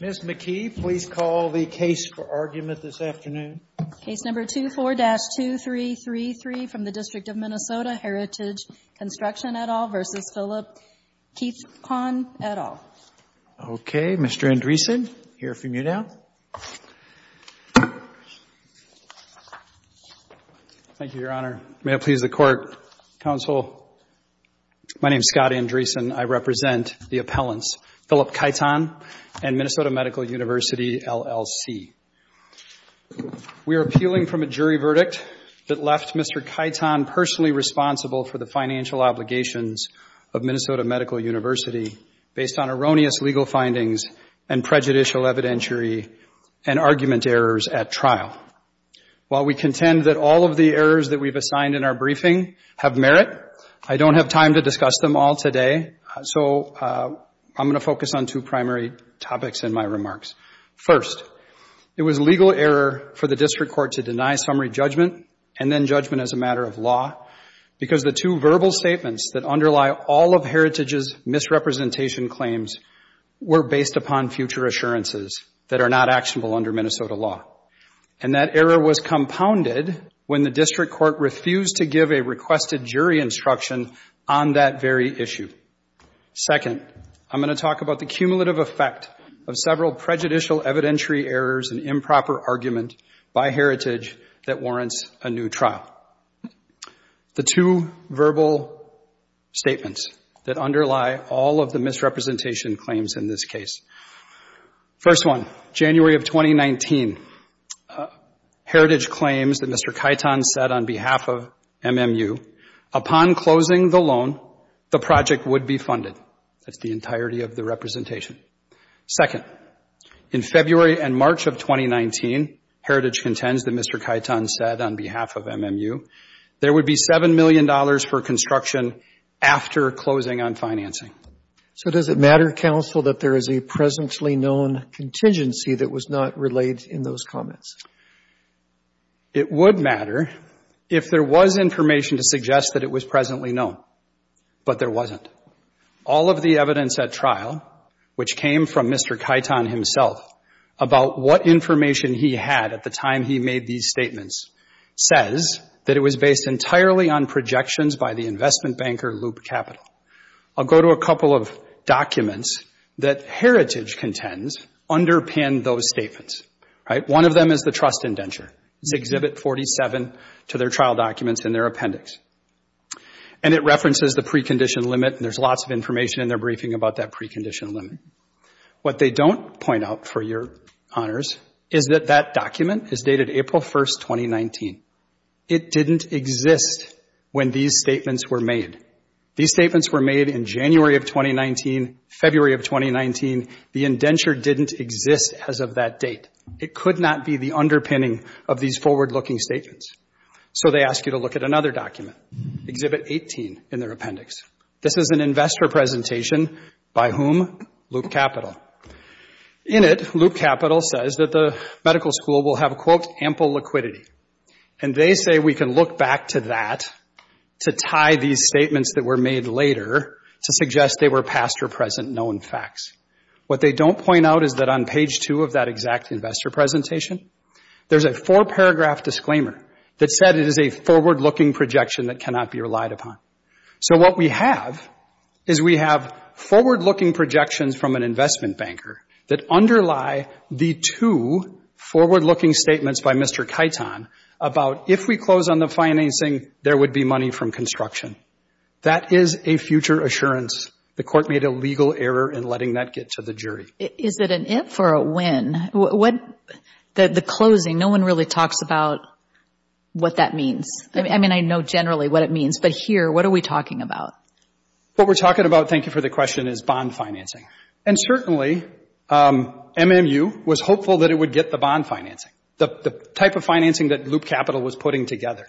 Ms. McKee, please call the case for argument this afternoon. Case No. 24-2333 from the District of Minnesota, Heritage Construction, et al. v. Philip Keithahn, et al. Okay. Mr. Andresen, you are free to mute now. Thank you, Your Honor. May it please the Court, Counsel, my name is Scott Andresen. I represent the appellants, Philip Keithahn and Minnesota Medical University, LLC. We are appealing from a jury verdict that left Mr. Keithahn personally responsible for the financial obligations of Minnesota Medical University based on erroneous legal findings and prejudicial evidentiary and argument errors at trial. While we contend that all of the errors that we've assigned in our briefing have merit, I don't have time to discuss them all today, so I'm going to focus on two primary topics in my remarks. First, it was legal error for the District Court to deny summary judgment and then judgment as a matter of law because the two verbal statements that underlie all of Heritage's misrepresentation claims were based upon future assurances that are not actionable under Minnesota law. And that error was compounded when the District Court refused to give a requested jury instruction on that very issue. Second, I'm going to talk about the cumulative effect of several prejudicial evidentiary errors and improper argument by Heritage that warrants a new trial. The two verbal statements that underlie all of the misrepresentation claims in this case. First one, January of 2019, Heritage claims that Mr. Kyton said on behalf of MMU, upon closing the loan, the project would be funded. That's the entirety of the representation. Second, in February and March of 2019, Heritage contends that Mr. Kyton said on behalf of MMU, there would be $7 million for construction after closing on financing. So does it matter, counsel, that there is a presently known contingency that was not relayed in those comments? It would matter if there was information to suggest that it was presently known. But there wasn't. All of the evidence at trial, which came from Mr. Kyton himself, about what information he had at the time he made these statements, says that it was based entirely on projections by the investment banker Loop Capital. I'll go to a couple of documents that Heritage contends underpinned those statements. One of them is the trust indenture. It's Exhibit 47 to their trial documents in their appendix. And it references the precondition limit, and there's lots of information in their briefing about that precondition limit. What they don't point out, for your honors, is that that document is dated April 1st, 2019. It didn't exist when these statements were made. These statements were made in January of 2019, February of 2019. The indenture didn't exist as of that date. It could not be the underpinning of these forward-looking statements. So they ask you to look at another document, Exhibit 18, in their appendix. This is an investor presentation by whom? Loop Capital. In it, Loop Capital says that the medical school will have, quote, ample liquidity. And they say we can look back to that to tie these statements that were made later to suggest they were past or present known facts. What they don't point out is that on page 2 of that exact investor presentation, there's a four-paragraph disclaimer that said it is a forward-looking projection that cannot be relied upon. So what we have is we have forward-looking projections from an investment banker that underlie the two forward-looking statements by Mr. Kaiton about if we close on the financing, there would be money from construction. That is a future assurance. The court made a legal error in letting that get to the jury. Is it an if or a when? The closing, no one really talks about what that means. I mean, I know generally what it means, but here, what are we talking about? What we're talking about, thank you for the question, is bond financing. And certainly, MMU was hopeful that it would get the bond financing, the type of financing that Loop Capital was putting together.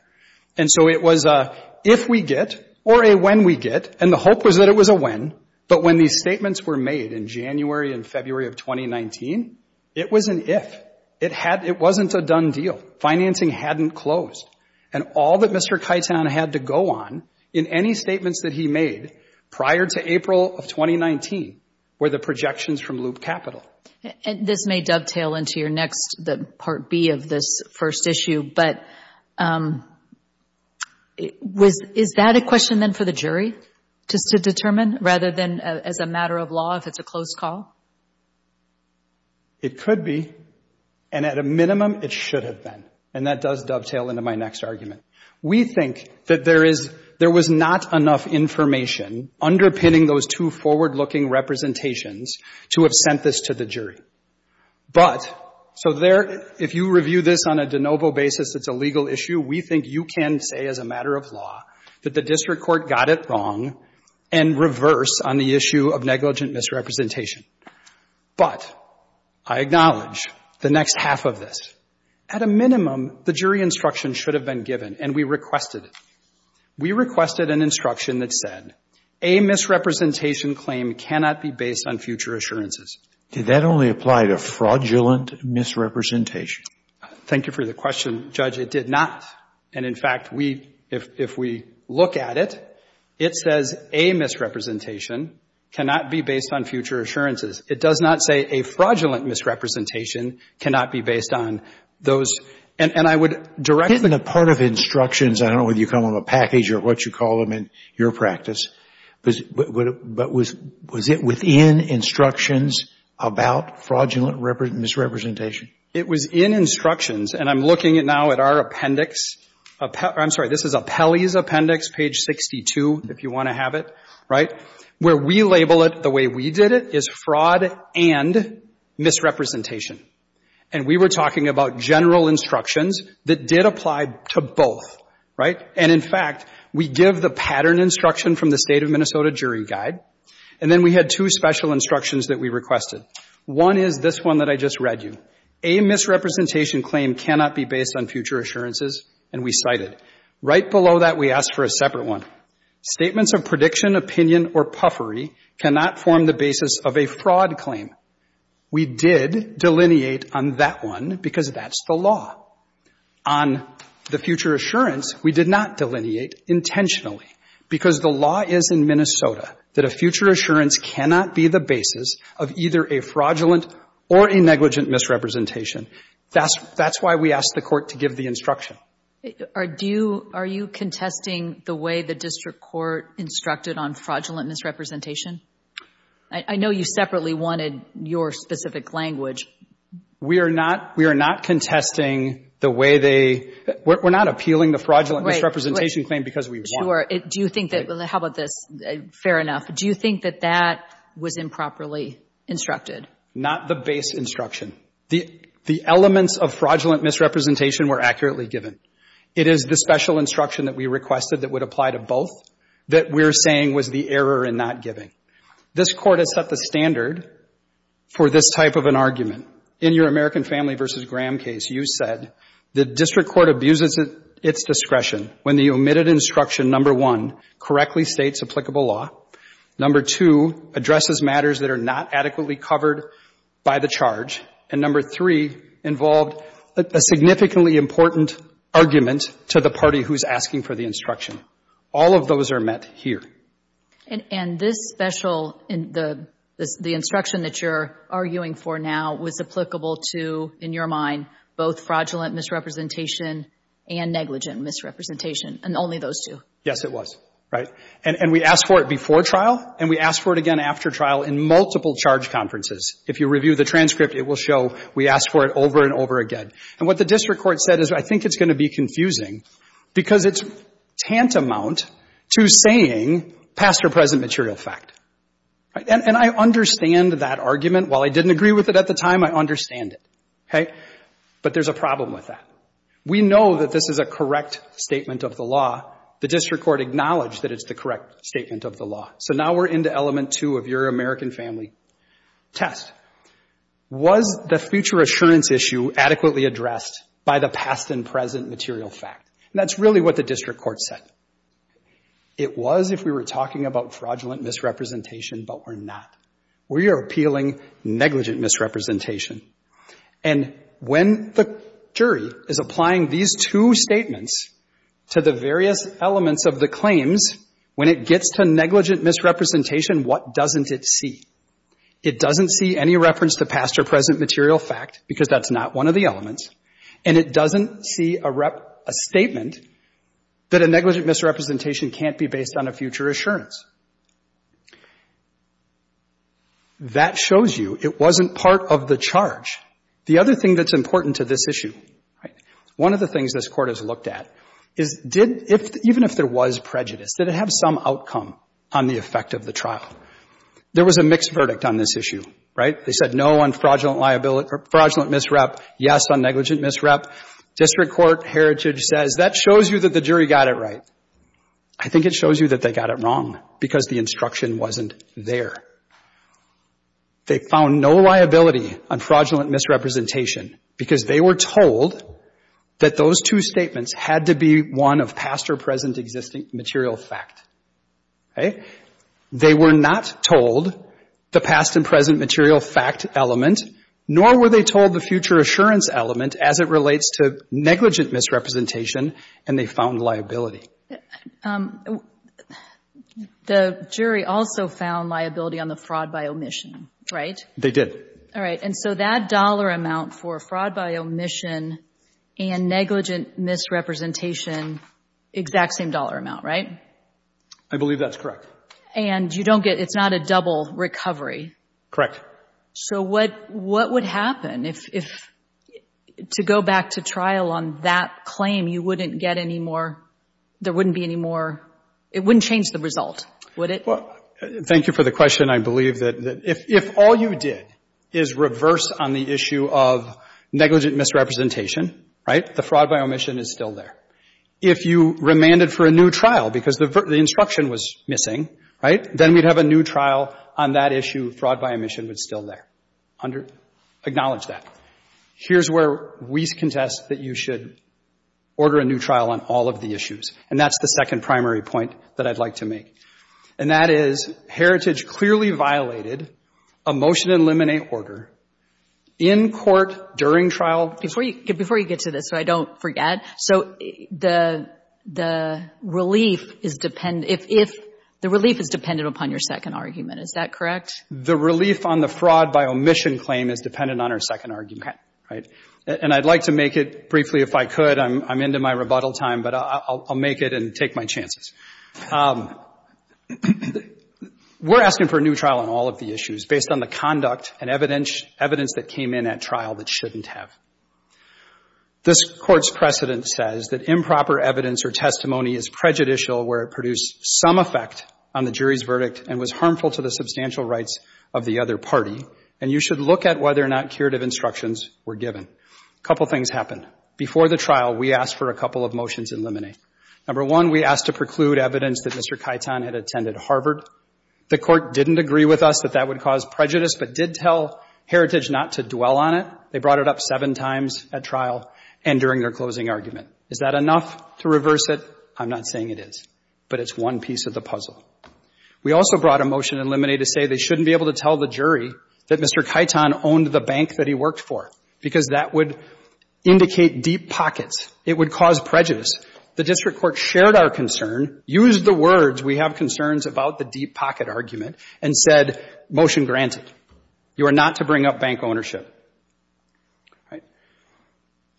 And so it was a if we get or a when we get, and the hope was that it was a when, but when these statements were made in January and February of 2019, it was an if. It wasn't a done deal. Financing hadn't closed. And all that Mr. Kaiton had to go on in any statements that he made prior to April of 2019 were the projections from Loop Capital. And this may dovetail into your next, the Part B of this first issue, but is that a question then for the jury to determine rather than as a matter of law if it's a closed call? It could be. And at a minimum, it should have been. And that does dovetail into my next argument. We think that there is, there was not enough information underpinning those two forward-looking representations to have sent this to the jury. But, so there, if you review this on a de novo basis, it's a legal issue, we think you can say as a matter of law that the district court got it wrong and reverse on the issue of negligent misrepresentation. But I acknowledge the next half of this. At a minimum, the jury instruction should have been given. And we requested it. We requested an instruction that said, a misrepresentation claim cannot be based on future assurances. Did that only apply to fraudulent misrepresentation? Thank you for the question, Judge. It did not. And, in fact, we, if we look at it, it says a misrepresentation cannot be based on future assurances. It does not say a fraudulent misrepresentation cannot be based on those. And I would directly to the Court of Appeals to say, I don't know whether you call them a package or what you call them in your practice, but was it within instructions about fraudulent misrepresentation? It was in instructions. And I'm looking now at our appendix. I'm sorry, this is Appellee's Appendix, page 62, if you want to have it, right, where we label it the way we did it, is fraud and misrepresentation. And we were talking about general instructions that did apply to both, right? And, in fact, we give the pattern instruction from the State of Minnesota Jury Guide. And then we had two special instructions that we requested. One is this one that I just read you. A misrepresentation claim cannot be based on future assurances. And we cite it. Right below that, we ask for a separate one. Statements of prediction, opinion or puffery cannot form the basis of a fraud claim. We did delineate on that one because that's the law. On the future assurance, we did not delineate intentionally because the law is in Minnesota that a future assurance cannot be the basis of either a fraudulent or a negligent misrepresentation. That's why we ask the Court to give the instruction. Are you contesting the way the district court instructed on fraudulent misrepresentation? I know you separately wanted your specific language. We are not contesting the way they, we're not appealing the fraudulent misrepresentation claim because we want it. Do you think that, how about this, fair enough, do you think that that was improperly instructed? Not the base instruction. The elements of fraudulent misrepresentation were accurately given. It is the special instruction that we requested that would apply to both that we're saying was the error in not giving. This Court has set the standard for this type of an argument. In your American Family v. Graham case, you said the district court abuses its discretion when the omitted instruction, number one, correctly states applicable law, number two, addresses matters that are not adequately covered by the charge, and number three, involved a significantly important argument to the party who's asking for the instruction. All of those are met here. And this special, the instruction that you're arguing for now was applicable to, in your mind, both fraudulent misrepresentation and negligent misrepresentation, and only those two? Yes, it was. Right? And we asked for it before trial, and we asked for it again after trial in multiple charge conferences. If you review the transcript, it will show we asked for it over and over again. And what the district court said is, I think it's going to be confusing because it's tantamount to saying past or present material fact. And I understand that argument. While I didn't agree with it at the time, I understand it. Okay? But there's a problem with that. We know that this is a correct statement of the law. The district court acknowledged that it's the correct statement of the law. So now we're into element two of your American Family test. Was the future assurance issue adequately addressed by the past and present material fact? And that's really what the district court said. It was if we were talking about fraudulent misrepresentation, but we're not. We are appealing negligent misrepresentation. And when the jury is applying these two statements to the various elements of the claims, when it gets to negligent misrepresentation, what doesn't it see? It doesn't see any reference to past or present material fact, because that's not one of the elements, and it doesn't see a statement that a negligent misrepresentation can't be based on a future assurance. That shows you it wasn't part of the charge. The other thing that's important to this issue, right, one of the things this Court has looked at is did — even if there was prejudice, did it have some outcome on the effect of the trial? There was a mixed verdict on this issue, right? They said no on fraudulent misrep, yes on negligent misrep. District court heritage says that shows you that the jury got it right. I think it shows you that they got it wrong, because the instruction wasn't there. They found no liability on fraudulent misrepresentation, because they were told that those two statements had to be one of past or present existing material fact, okay? They were not told the past and present material fact element, nor were they told the future assurance element as it relates to negligent misrepresentation, and they found liability. The jury also found liability on the fraud by omission, right? They did. All right. And so that dollar amount for fraud by omission and negligent misrepresentation, exact same dollar amount, right? I believe that's correct. And you don't get — it's not a double recovery? Correct. So what would happen if — to go back to trial on that claim, you wouldn't get any more — there wouldn't be any more — it wouldn't change the result, would it? Well, thank you for the question. I believe that if all you did is reverse on the issue of negligent misrepresentation, right, the fraud by omission is still there. If you remanded for a new trial, because the instruction was missing, right, then we'd have a new trial on that issue. Fraud by omission was still there. Acknowledge that. Here's where we contest that you should order a new trial on all of the issues, and that's the second primary point that I'd like to make. And that is, Heritage clearly violated a motion to eliminate order in court during trial. Before you get to this, so I don't forget, so the relief is — if the relief is dependent upon your second argument, is that correct? The relief on the fraud by omission claim is dependent on our second argument, right? And I'd like to make it briefly, if I could. I'm into my rebuttal time, but I'll make it and take my chances. We're asking for a new trial on all of the issues based on the conduct and evidence that came in at trial that shouldn't have. This Court's precedent says that improper evidence or testimony is prejudicial where it produced some effect on the jury's verdict and was harmful to the substantial rights of the other party, and you should look at whether or not curative instructions were given. A couple things happened. Before the trial, we asked for a couple of motions eliminated. Number one, we asked to preclude evidence that Mr. Kaiton had attended Harvard. The Court didn't agree with us that that would cause prejudice, but did tell Heritage not to dwell on it. They brought it up seven times at trial and during their closing argument. Is that enough to reverse it? I'm not saying it is, but it's one piece of the puzzle. We also brought a motion eliminated to say they shouldn't be able to tell the jury that Mr. Kaiton owned the bank that he worked for, because that would indicate deep pockets. It would cause prejudice. The district court shared our concern, used the words, we have concerns about the deep pocket argument, and said, motion granted. You are not to bring up bank ownership.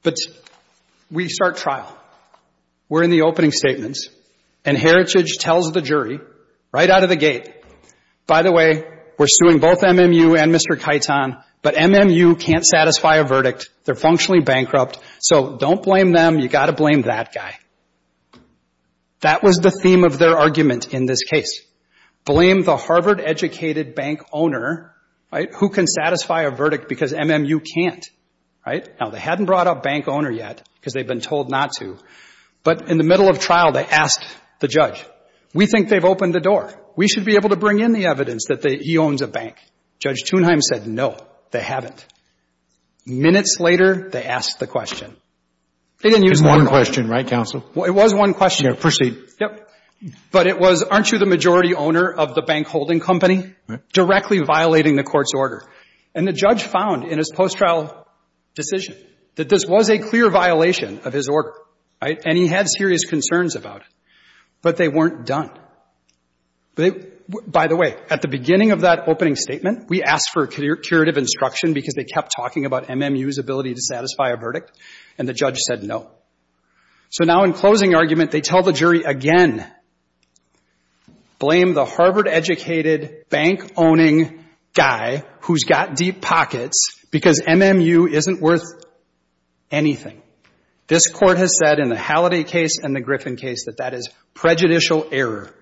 But we start trial. We're in the opening statements, and Heritage tells the jury right out of the gate, by the way, we're suing both MMU and Mr. Kaiton, but MMU can't satisfy a verdict. They're functionally bankrupt, so don't blame them. You've got to blame that guy. That was the theme of their argument in this case. Blame the Harvard-educated bank owner who can satisfy a verdict because MMU can't. Now, they hadn't brought up bank owner yet, because they've been told not to, but in the middle of trial, they asked the judge, we think they've opened the door. We should be able to bring in the evidence that he owns a bank. Judge Thunheim said no, they haven't. Minutes later, they asked the question. They didn't use one word. It was one question, right, counsel? Well, it was one question. Yeah, proceed. Yep. But it was, aren't you the majority owner of the bank holding company? Directly violating the court's order. And the judge found in his post-trial decision that this was a clear violation of his order, right? And he had serious concerns about it. But they weren't done. By the way, at the beginning of that opening statement, we asked for curative instruction because they kept talking about MMU's ability to satisfy a verdict, and the judge said no. So now in closing argument, they tell the jury again, blame the Harvard-educated bank owning guy who's got deep pockets because MMU isn't worth anything. This Court has said in the Halliday case and the Griffin case that that is prejudicial error.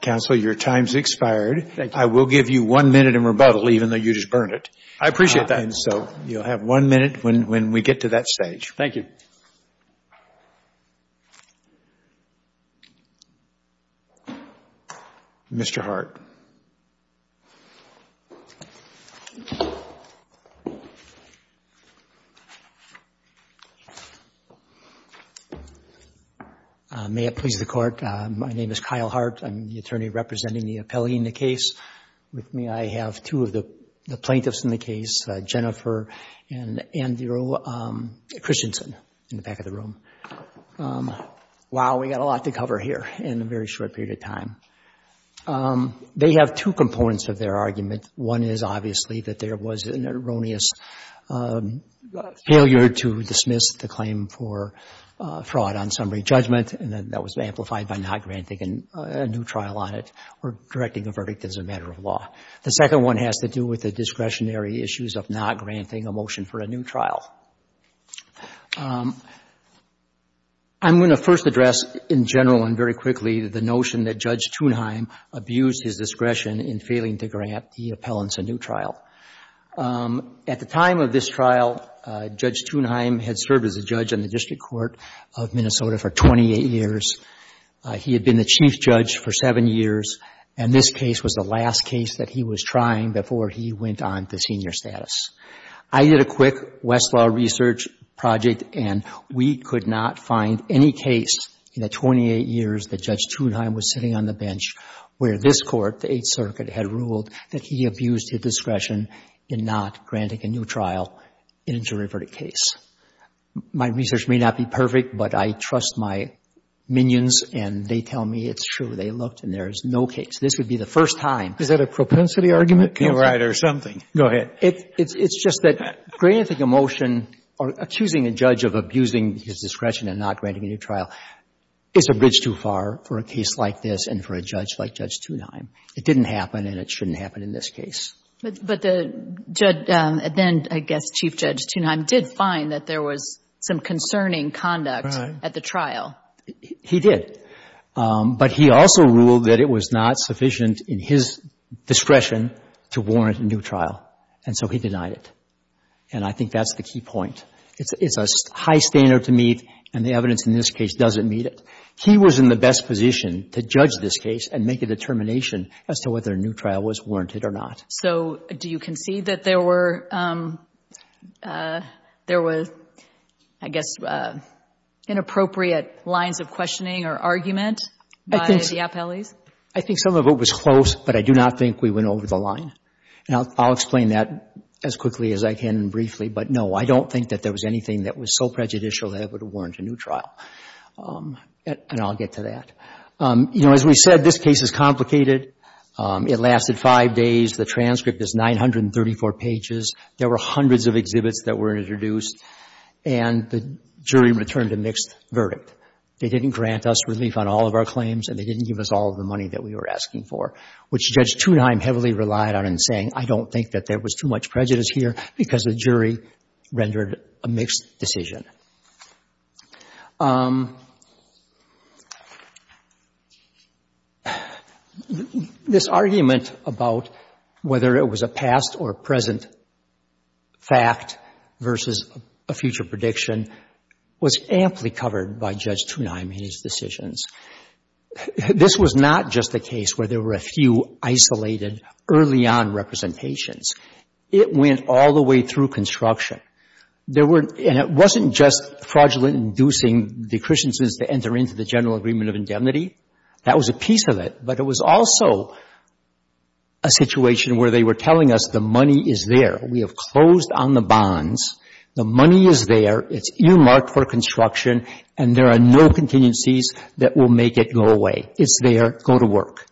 Counsel, your time's expired. Thank you. I will give you one minute in rebuttal, even though you just burned it. I appreciate that. And so you'll have one minute when we get to that stage. Thank you. Mr. Hart. May it please the Court. My name is Kyle Hart. I'm the attorney representing the appellee in the case. With me, I have two of the plaintiffs in the case, Jennifer and Andrew Christensen, in the back of the room. Wow, we've got a lot to cover here in a very short period of time. They have two components of their argument. One is obviously that there was an erroneous failure to dismiss the claim for fraud on summary judgment, and that was amplified by not granting a new trial on it or directing a verdict as a matter of law. The second one has to do with the discretionary issues of not granting a motion for a new trial. I'm going to first address, in general and very quickly, the notion that Judge Thunheim abused his discretion in failing to grant the appellants a new trial. At the time of this trial, Judge Thunheim had served as a judge on the district court of Minnesota for 28 years. He had been the chief judge for seven years, and this case was the last case that he was trying before he went on to senior status. I did a quick Westlaw research project, and we could not find any case in the 28 years that Judge Thunheim was sitting on the bench where this court, the Eighth Circuit, had ruled that he abused his discretion in not granting a new trial in a jury verdict case. My research may not be perfect, but I trust my minions, and they tell me it's true. They looked, and there is no case. This would be the first time. Is that a propensity argument? You're right, or something. Go ahead. It's just that granting a motion or accusing a judge of abusing his discretion in not granting a new trial is a bridge too far for a case like this and for a judge like Judge Thunheim. It didn't happen, and it shouldn't happen in this case. But the judge, then I guess Chief Judge Thunheim, did find that there was some concerning conduct at the trial. He did. But he also ruled that it was not sufficient in his discretion to warrant a new trial, and so he denied it. And I think that's the key point. It's a high standard to meet, and the evidence in this case doesn't meet it. He was in the best position to judge this case and make a determination as to whether a new trial was warranted or not. So do you concede that there were, I guess, inappropriate lines of questioning or argument by the appellees? I think some of it was close, but I do not think we went over the line. Now, I'll explain that as quickly as I can briefly, but no, I don't think that there was anything that was so prejudicial that it would have warranted a new trial. And I'll get to that. You know, as we said, this case is complicated. It lasted five days. The transcript is 934 pages. There were hundreds of exhibits that were introduced, and the jury returned a mixed verdict. They didn't grant us relief on all of our claims, and they didn't give us all of the money that we were asking for, which Judge Thunheim heavily relied on in saying, I don't think that there was too much prejudice here because the jury rendered a mixed decision. This argument about whether it was a past or present fact versus a future prediction was amply covered by Judge Thunheim and his decisions. This was not just a case where there were a few isolated early-on representations. It went all the way through construction. There were, and it wasn't just a case where there were a few isolated early-on representations. It wasn't just fraudulent inducing the Christians to enter into the General Agreement of Indemnity. That was a piece of it. But it was also a situation where they were telling us the money is there. We have closed on the bonds. The money is there. It's earmarked for construction, and there are no contingencies that will make it go away. It's there. Go to work.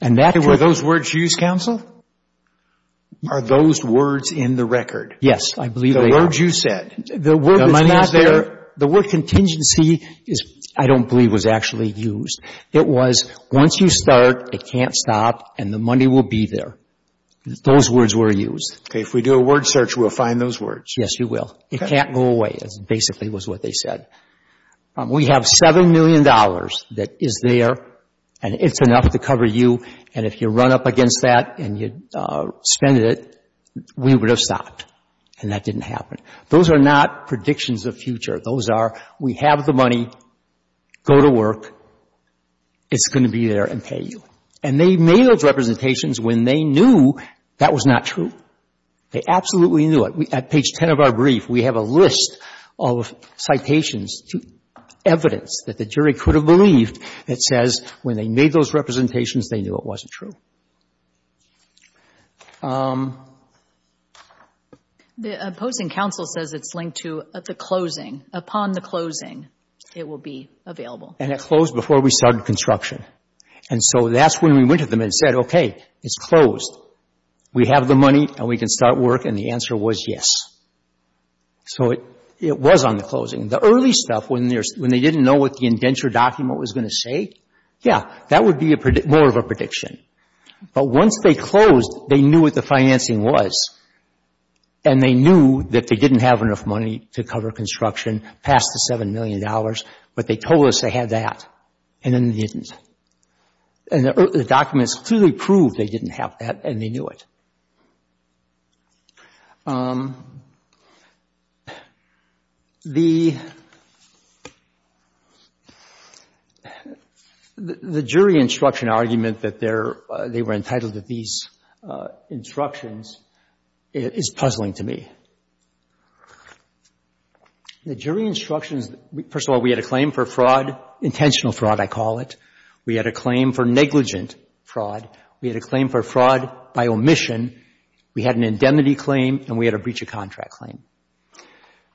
And that's what And were those words used, counsel? Are those words in the record? Yes, I believe they are. The words you said. The word is not there. The word contingency I don't believe was actually used. It was once you start, it can't stop, and the money will be there. Those words were used. Okay. If we do a word search, we'll find those words. Yes, you will. Okay. It can't go away, basically was what they said. We have $7 million that is there, and it's enough to cover you. And if you run up against that and you spend it, we would have stopped, and that didn't happen. Those are not predictions of future. Those are we have the money. Go to work. It's going to be there and pay you. And they made those representations when they knew that was not true. They absolutely knew it. At page 10 of our brief, we have a list of citations to evidence that the jury could have believed that says when they made those representations, they knew it wasn't true. Okay. The opposing counsel says it's linked to the closing. Upon the closing, it will be available. And it closed before we started construction. And so that's when we went to them and said, okay, it's closed. We have the money and we can start work, and the answer was yes. So it was on the closing. The early stuff, when they didn't know what the indenture document was going to say, yeah, that would be more of a lie. But once they closed, they knew what the financing was, and they knew that they didn't have enough money to cover construction past the $7 million, but they told us they had that, and then they didn't. And the documents clearly proved they didn't have that, and they knew it. The jury instruction argument that they were entitled to these instructions is puzzling to me. The jury instructions, first of all, we had a claim for fraud, intentional fraud, I call it. We had a claim for negligent fraud. We had a claim for fraud by omission. We had an indemnity claim, and we had a breach of contract claim.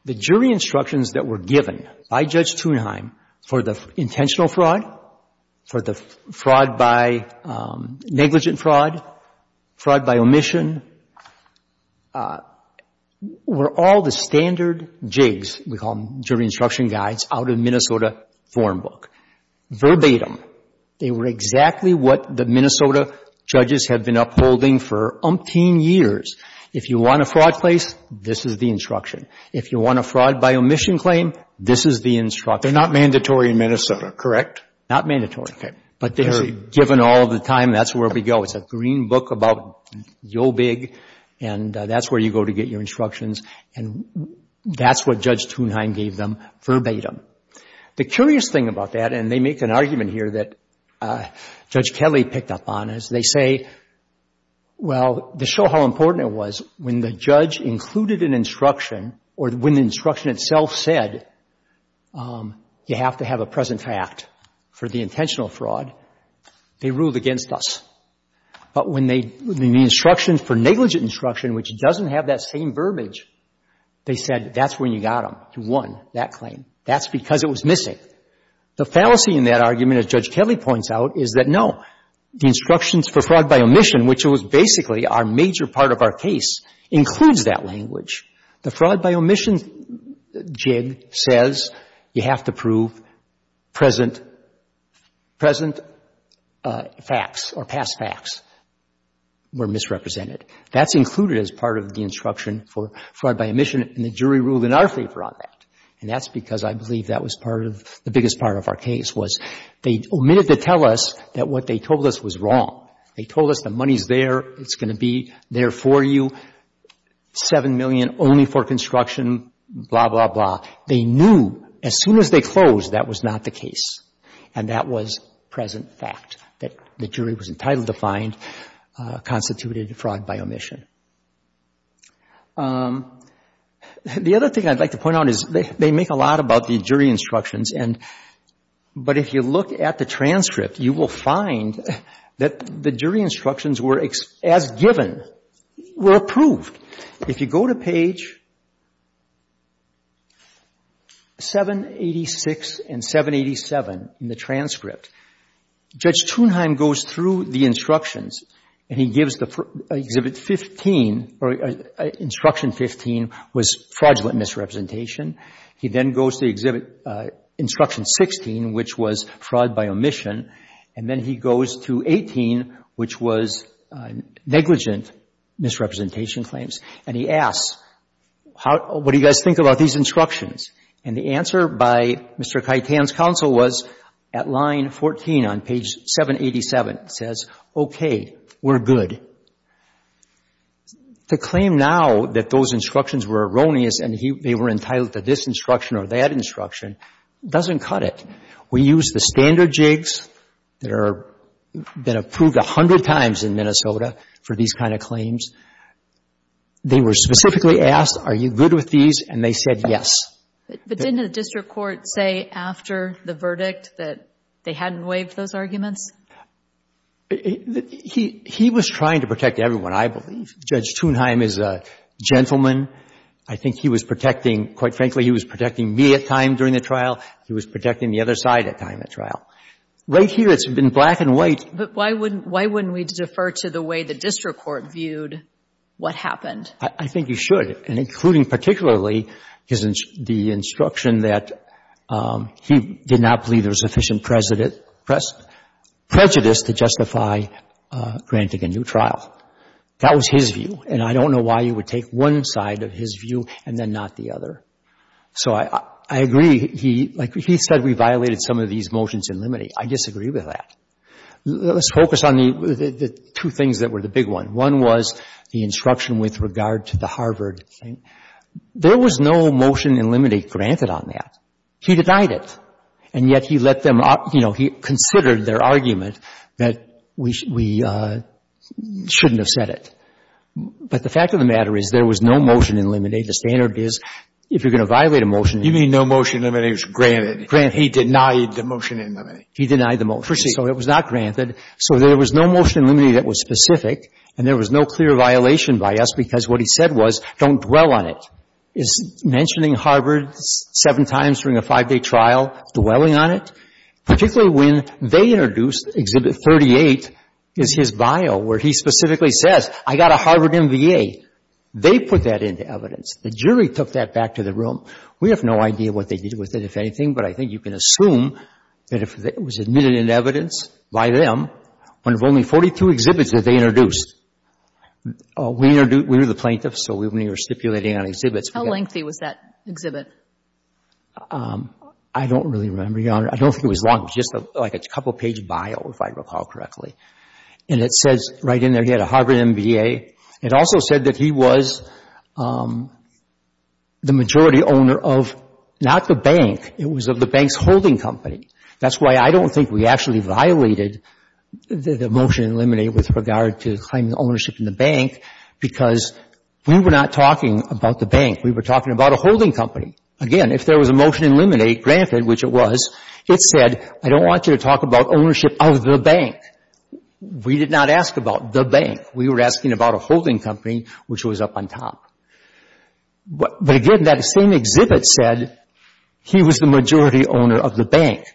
The jury instructions that were given by Judge Thunheim for the intentional fraud, for the fraud by, negligent fraud, fraud by omission, were all the standard jigs, we call them jury instruction guides, out of Minnesota foreign book. Verbatim, they were exactly what the Minnesota judges had been upholding for umpteen years. If you want a fraud case, this is the instruction. If you want a fraud by omission claim, this is the instruction. They're not mandatory in Minnesota, correct? Not mandatory. But they're given all the time. That's where we go. It's a green book about your big, and that's where you go to get your instructions, and that's what Judge Thunheim gave them verbatim. The curious thing about that, and they make an argument here that Judge Kelly picked up on, is they say, well, to show how important it was, when the judge included an instruction, or when the instruction itself said, you have to have a present fact for the intentional fraud, they ruled against us. But when the instructions for negligent instruction, which doesn't have that same verbiage, they said, that's when you got them. You won that claim. That's because it was missing. The fallacy in that argument, as Judge Kelly points out, is that no, the instructions for fraud by omission, which was basically our major part of our case, includes that language. The fraud by omission jig says you have to prove present facts or past facts were misrepresented. That's included as part of the instruction for fraud by omission, and the jury ruled in our favor on that. And that's because I believe that was part of the biggest part of our case, was they omitted to tell us that what they told us was wrong. They told us the money's there, it's going to be there for you, $7 million only for construction, blah, blah, blah. They knew as soon as they closed, that was not the case, and that was present fact, that the jury was entitled to find out what constituted fraud by omission. The other thing I'd like to point out is they make a lot about the jury instructions, but if you look at the transcript, you will find that the jury instructions were, as given, were approved. If you go to page 786 and 787 in the transcript, Judge Tunheim goes through the instructions, and he gives the exhibit 15, or instruction 15 was fraudulent misrepresentation. He then goes to exhibit instruction 16, which was fraud by omission, and then he goes to 18, which was negligent misrepresentation claims, and he asks, what do you guys think about these instructions? And the answer by Mr. Kitan's counsel was at line 14 on page 787, says, okay, we're good. The claim now that those instructions were erroneous and they were entitled to this instruction or that instruction doesn't cut it. We use the standard jigs that are been approved a hundred times in Minnesota for these kind of claims. They were specifically asked, are you good with these? And they said yes. But didn't the district court say after the verdict that they hadn't waived those arguments? He was trying to protect everyone, I believe. Judge Tunheim is a gentleman. I think he was protecting, quite frankly, he was protecting me at time during the trial. He was protecting the other side at time of the trial. Right here, it's been black and white. But why wouldn't we defer to the way the district court viewed what happened? I think you should, and including particularly the instruction that he did not believe there was sufficient prejudice to justify granting a new trial. That was his view, and I don't know why you would take one side of his view and then not the other. So I agree. He said we violated some of these motions in limine. I disagree with that. Let's focus on the two things that were the big one. One was the instruction with regard to the Harvard thing. There was no motion in limine granted on that. He denied it. And yet he let them, you know, he considered their argument that we shouldn't have said it. But the fact of the matter is there was no motion in limine. The standard is if you're going to violate a motion You mean no motion in limine was granted. He denied the motion in limine. He denied the motion. So it was not granted. So there was no motion in limine that was specific, and there was no clear violation by us because what he said was don't dwell on it. Is mentioning Harvard seven times during a five-day trial dwelling on it? Particularly when they introduced Exhibit 38 is his bio where he specifically says I got a Harvard MBA. They put that into evidence. The jury took that back to the room. We have no idea what they did with it, if anything, but I think you can assume that it was admitted in evidence by them when of only 42 exhibits that they introduced. We were the plaintiffs, so we were stipulating on exhibits. How lengthy was that exhibit? I don't really remember, Your Honor. I don't think it was long. Just like a couple page bio, if I recall correctly. And it says right in there he had a Harvard MBA. It also said that he was the majority owner of not the bank. It was of the bank's holding company. That's why I don't think we actually violated the motion in limine with regard to claiming ownership in the bank, because we were not talking about the bank. We were talking about a holding company. Again, if there was a motion in limine granted, which it was, it said I don't want you to talk about ownership of the bank. We did not ask about the bank. We were asking about a holding company, which was up on top. But again, that same exhibit said he was the majority owner of the bank.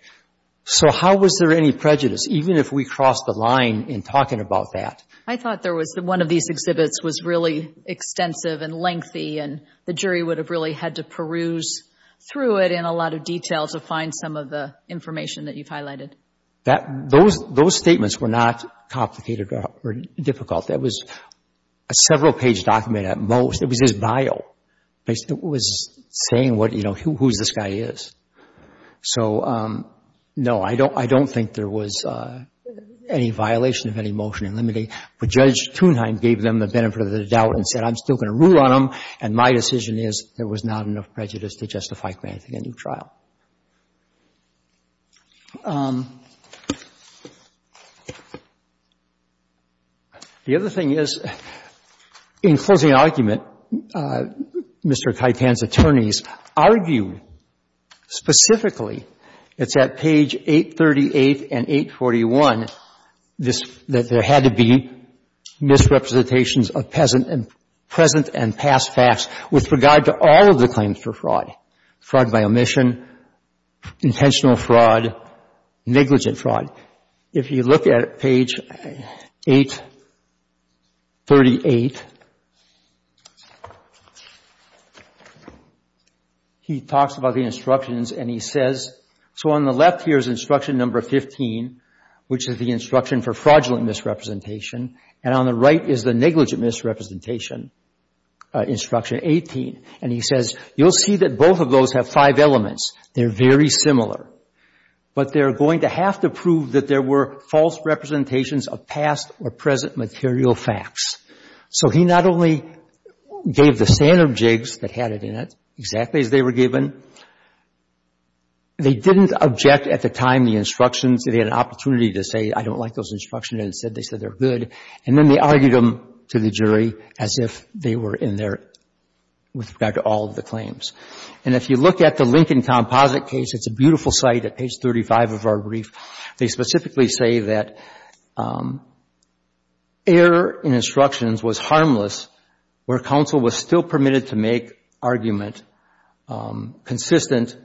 So how was there any prejudice, even if we crossed the line in talking about that? I thought one of these exhibits was really extensive and lengthy, and the jury would have really had to peruse through it in a lot of detail to find some of the information that you've highlighted. Those statements were not complicated or difficult. That was a several page document at most. It was his bio. It was saying, you know, who this guy is. So, no, I don't think there was any violation of any motion in limine. But Judge Thunheim gave them the benefit of the doubt and said I'm still going to rule on them, and my decision is there was not enough prejudice to justify granting a new trial. The other thing is, in closing argument, Mr. Kaitan's attorneys argued specifically it's at page 838 and 841 that there had to be misrepresentations of present and past facts with regard to all of the claims for fraud, fraud by omission, intentional fraud, negligent fraud. If you look at page 838, he talks about the instructions and he says so on the left here is instruction number 15, which is the instruction for fraudulent misrepresentation, and on the right is the negligent misrepresentation, instruction 18. And he says you'll see that both of those have five elements. They're very similar. But they're going to have to prove that there were false representations of past or present material facts. So he not only gave the standard jigs that had it in it, exactly as they were given, they didn't object at the time the instructions. They had an opportunity to say I don't like those and they said they're good. And then they argued them to the jury as if they were in there with regard to all of the claims. And if you look at the Lincoln Composite case, it's a beautiful site at page 35 of our brief. They specifically say that error in instructions was harmless where counsel was still permitted to make argument consistent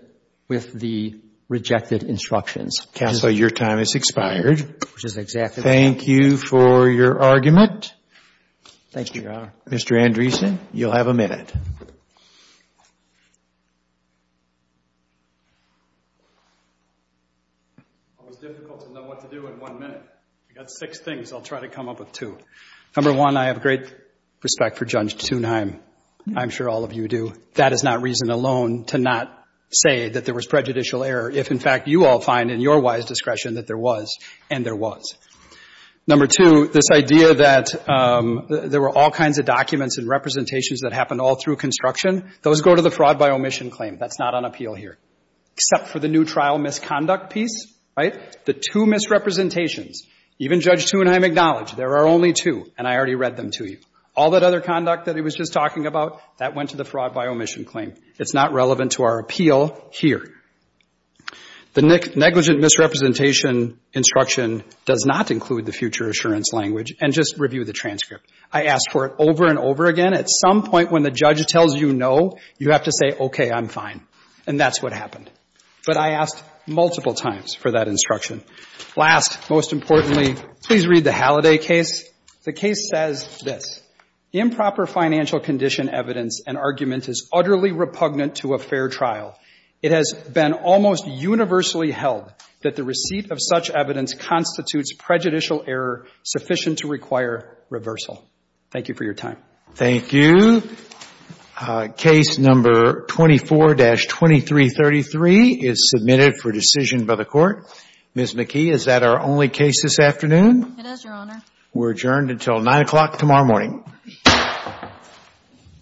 with the rejected instructions. Counsel, your time has expired. Thank you for your argument. Thank you, Your Honor. Mr. Andreessen, you'll have a minute. It was difficult to know what to do in one minute. I've got six things. I'll try to come up with two. Number one, I have great respect for Judge Thunheim. I'm sure all of you do. That is not reason alone to not say that there was prejudicial error if, in fact, you all find in your wise discretion that there was and there was. Number two, this idea that there were all kinds of documents and representations that happened all through construction, those go to the fraud by omission claim. That's not on appeal here, except for the new trial misconduct piece, right? The two misrepresentations, even Judge Thunheim acknowledged there are only two, and I already read them to you. All that other conduct that he was just talking about, that went to the fraud by omission claim. It's not relevant to our appeal here. The negligent misrepresentation instruction does not include the future assurance language. And just review the transcript. I asked for it over and over again. At some point when the judge tells you no, you have to say, okay, I'm fine. And that's what happened. But I asked multiple times for that instruction. Last, most importantly, please read the Halliday case. The case says this. Improper financial condition evidence and argument is utterly repugnant to a fair trial. It has been almost universally held that the receipt of such evidence constitutes prejudicial error sufficient to require reversal. Thank you for your time. Thank you. Case number 24-2333 is submitted for decision by the Court. Ms. McKee, is that our only case this afternoon? It is, Your Honor. We're adjourned until 9 o'clock tomorrow morning.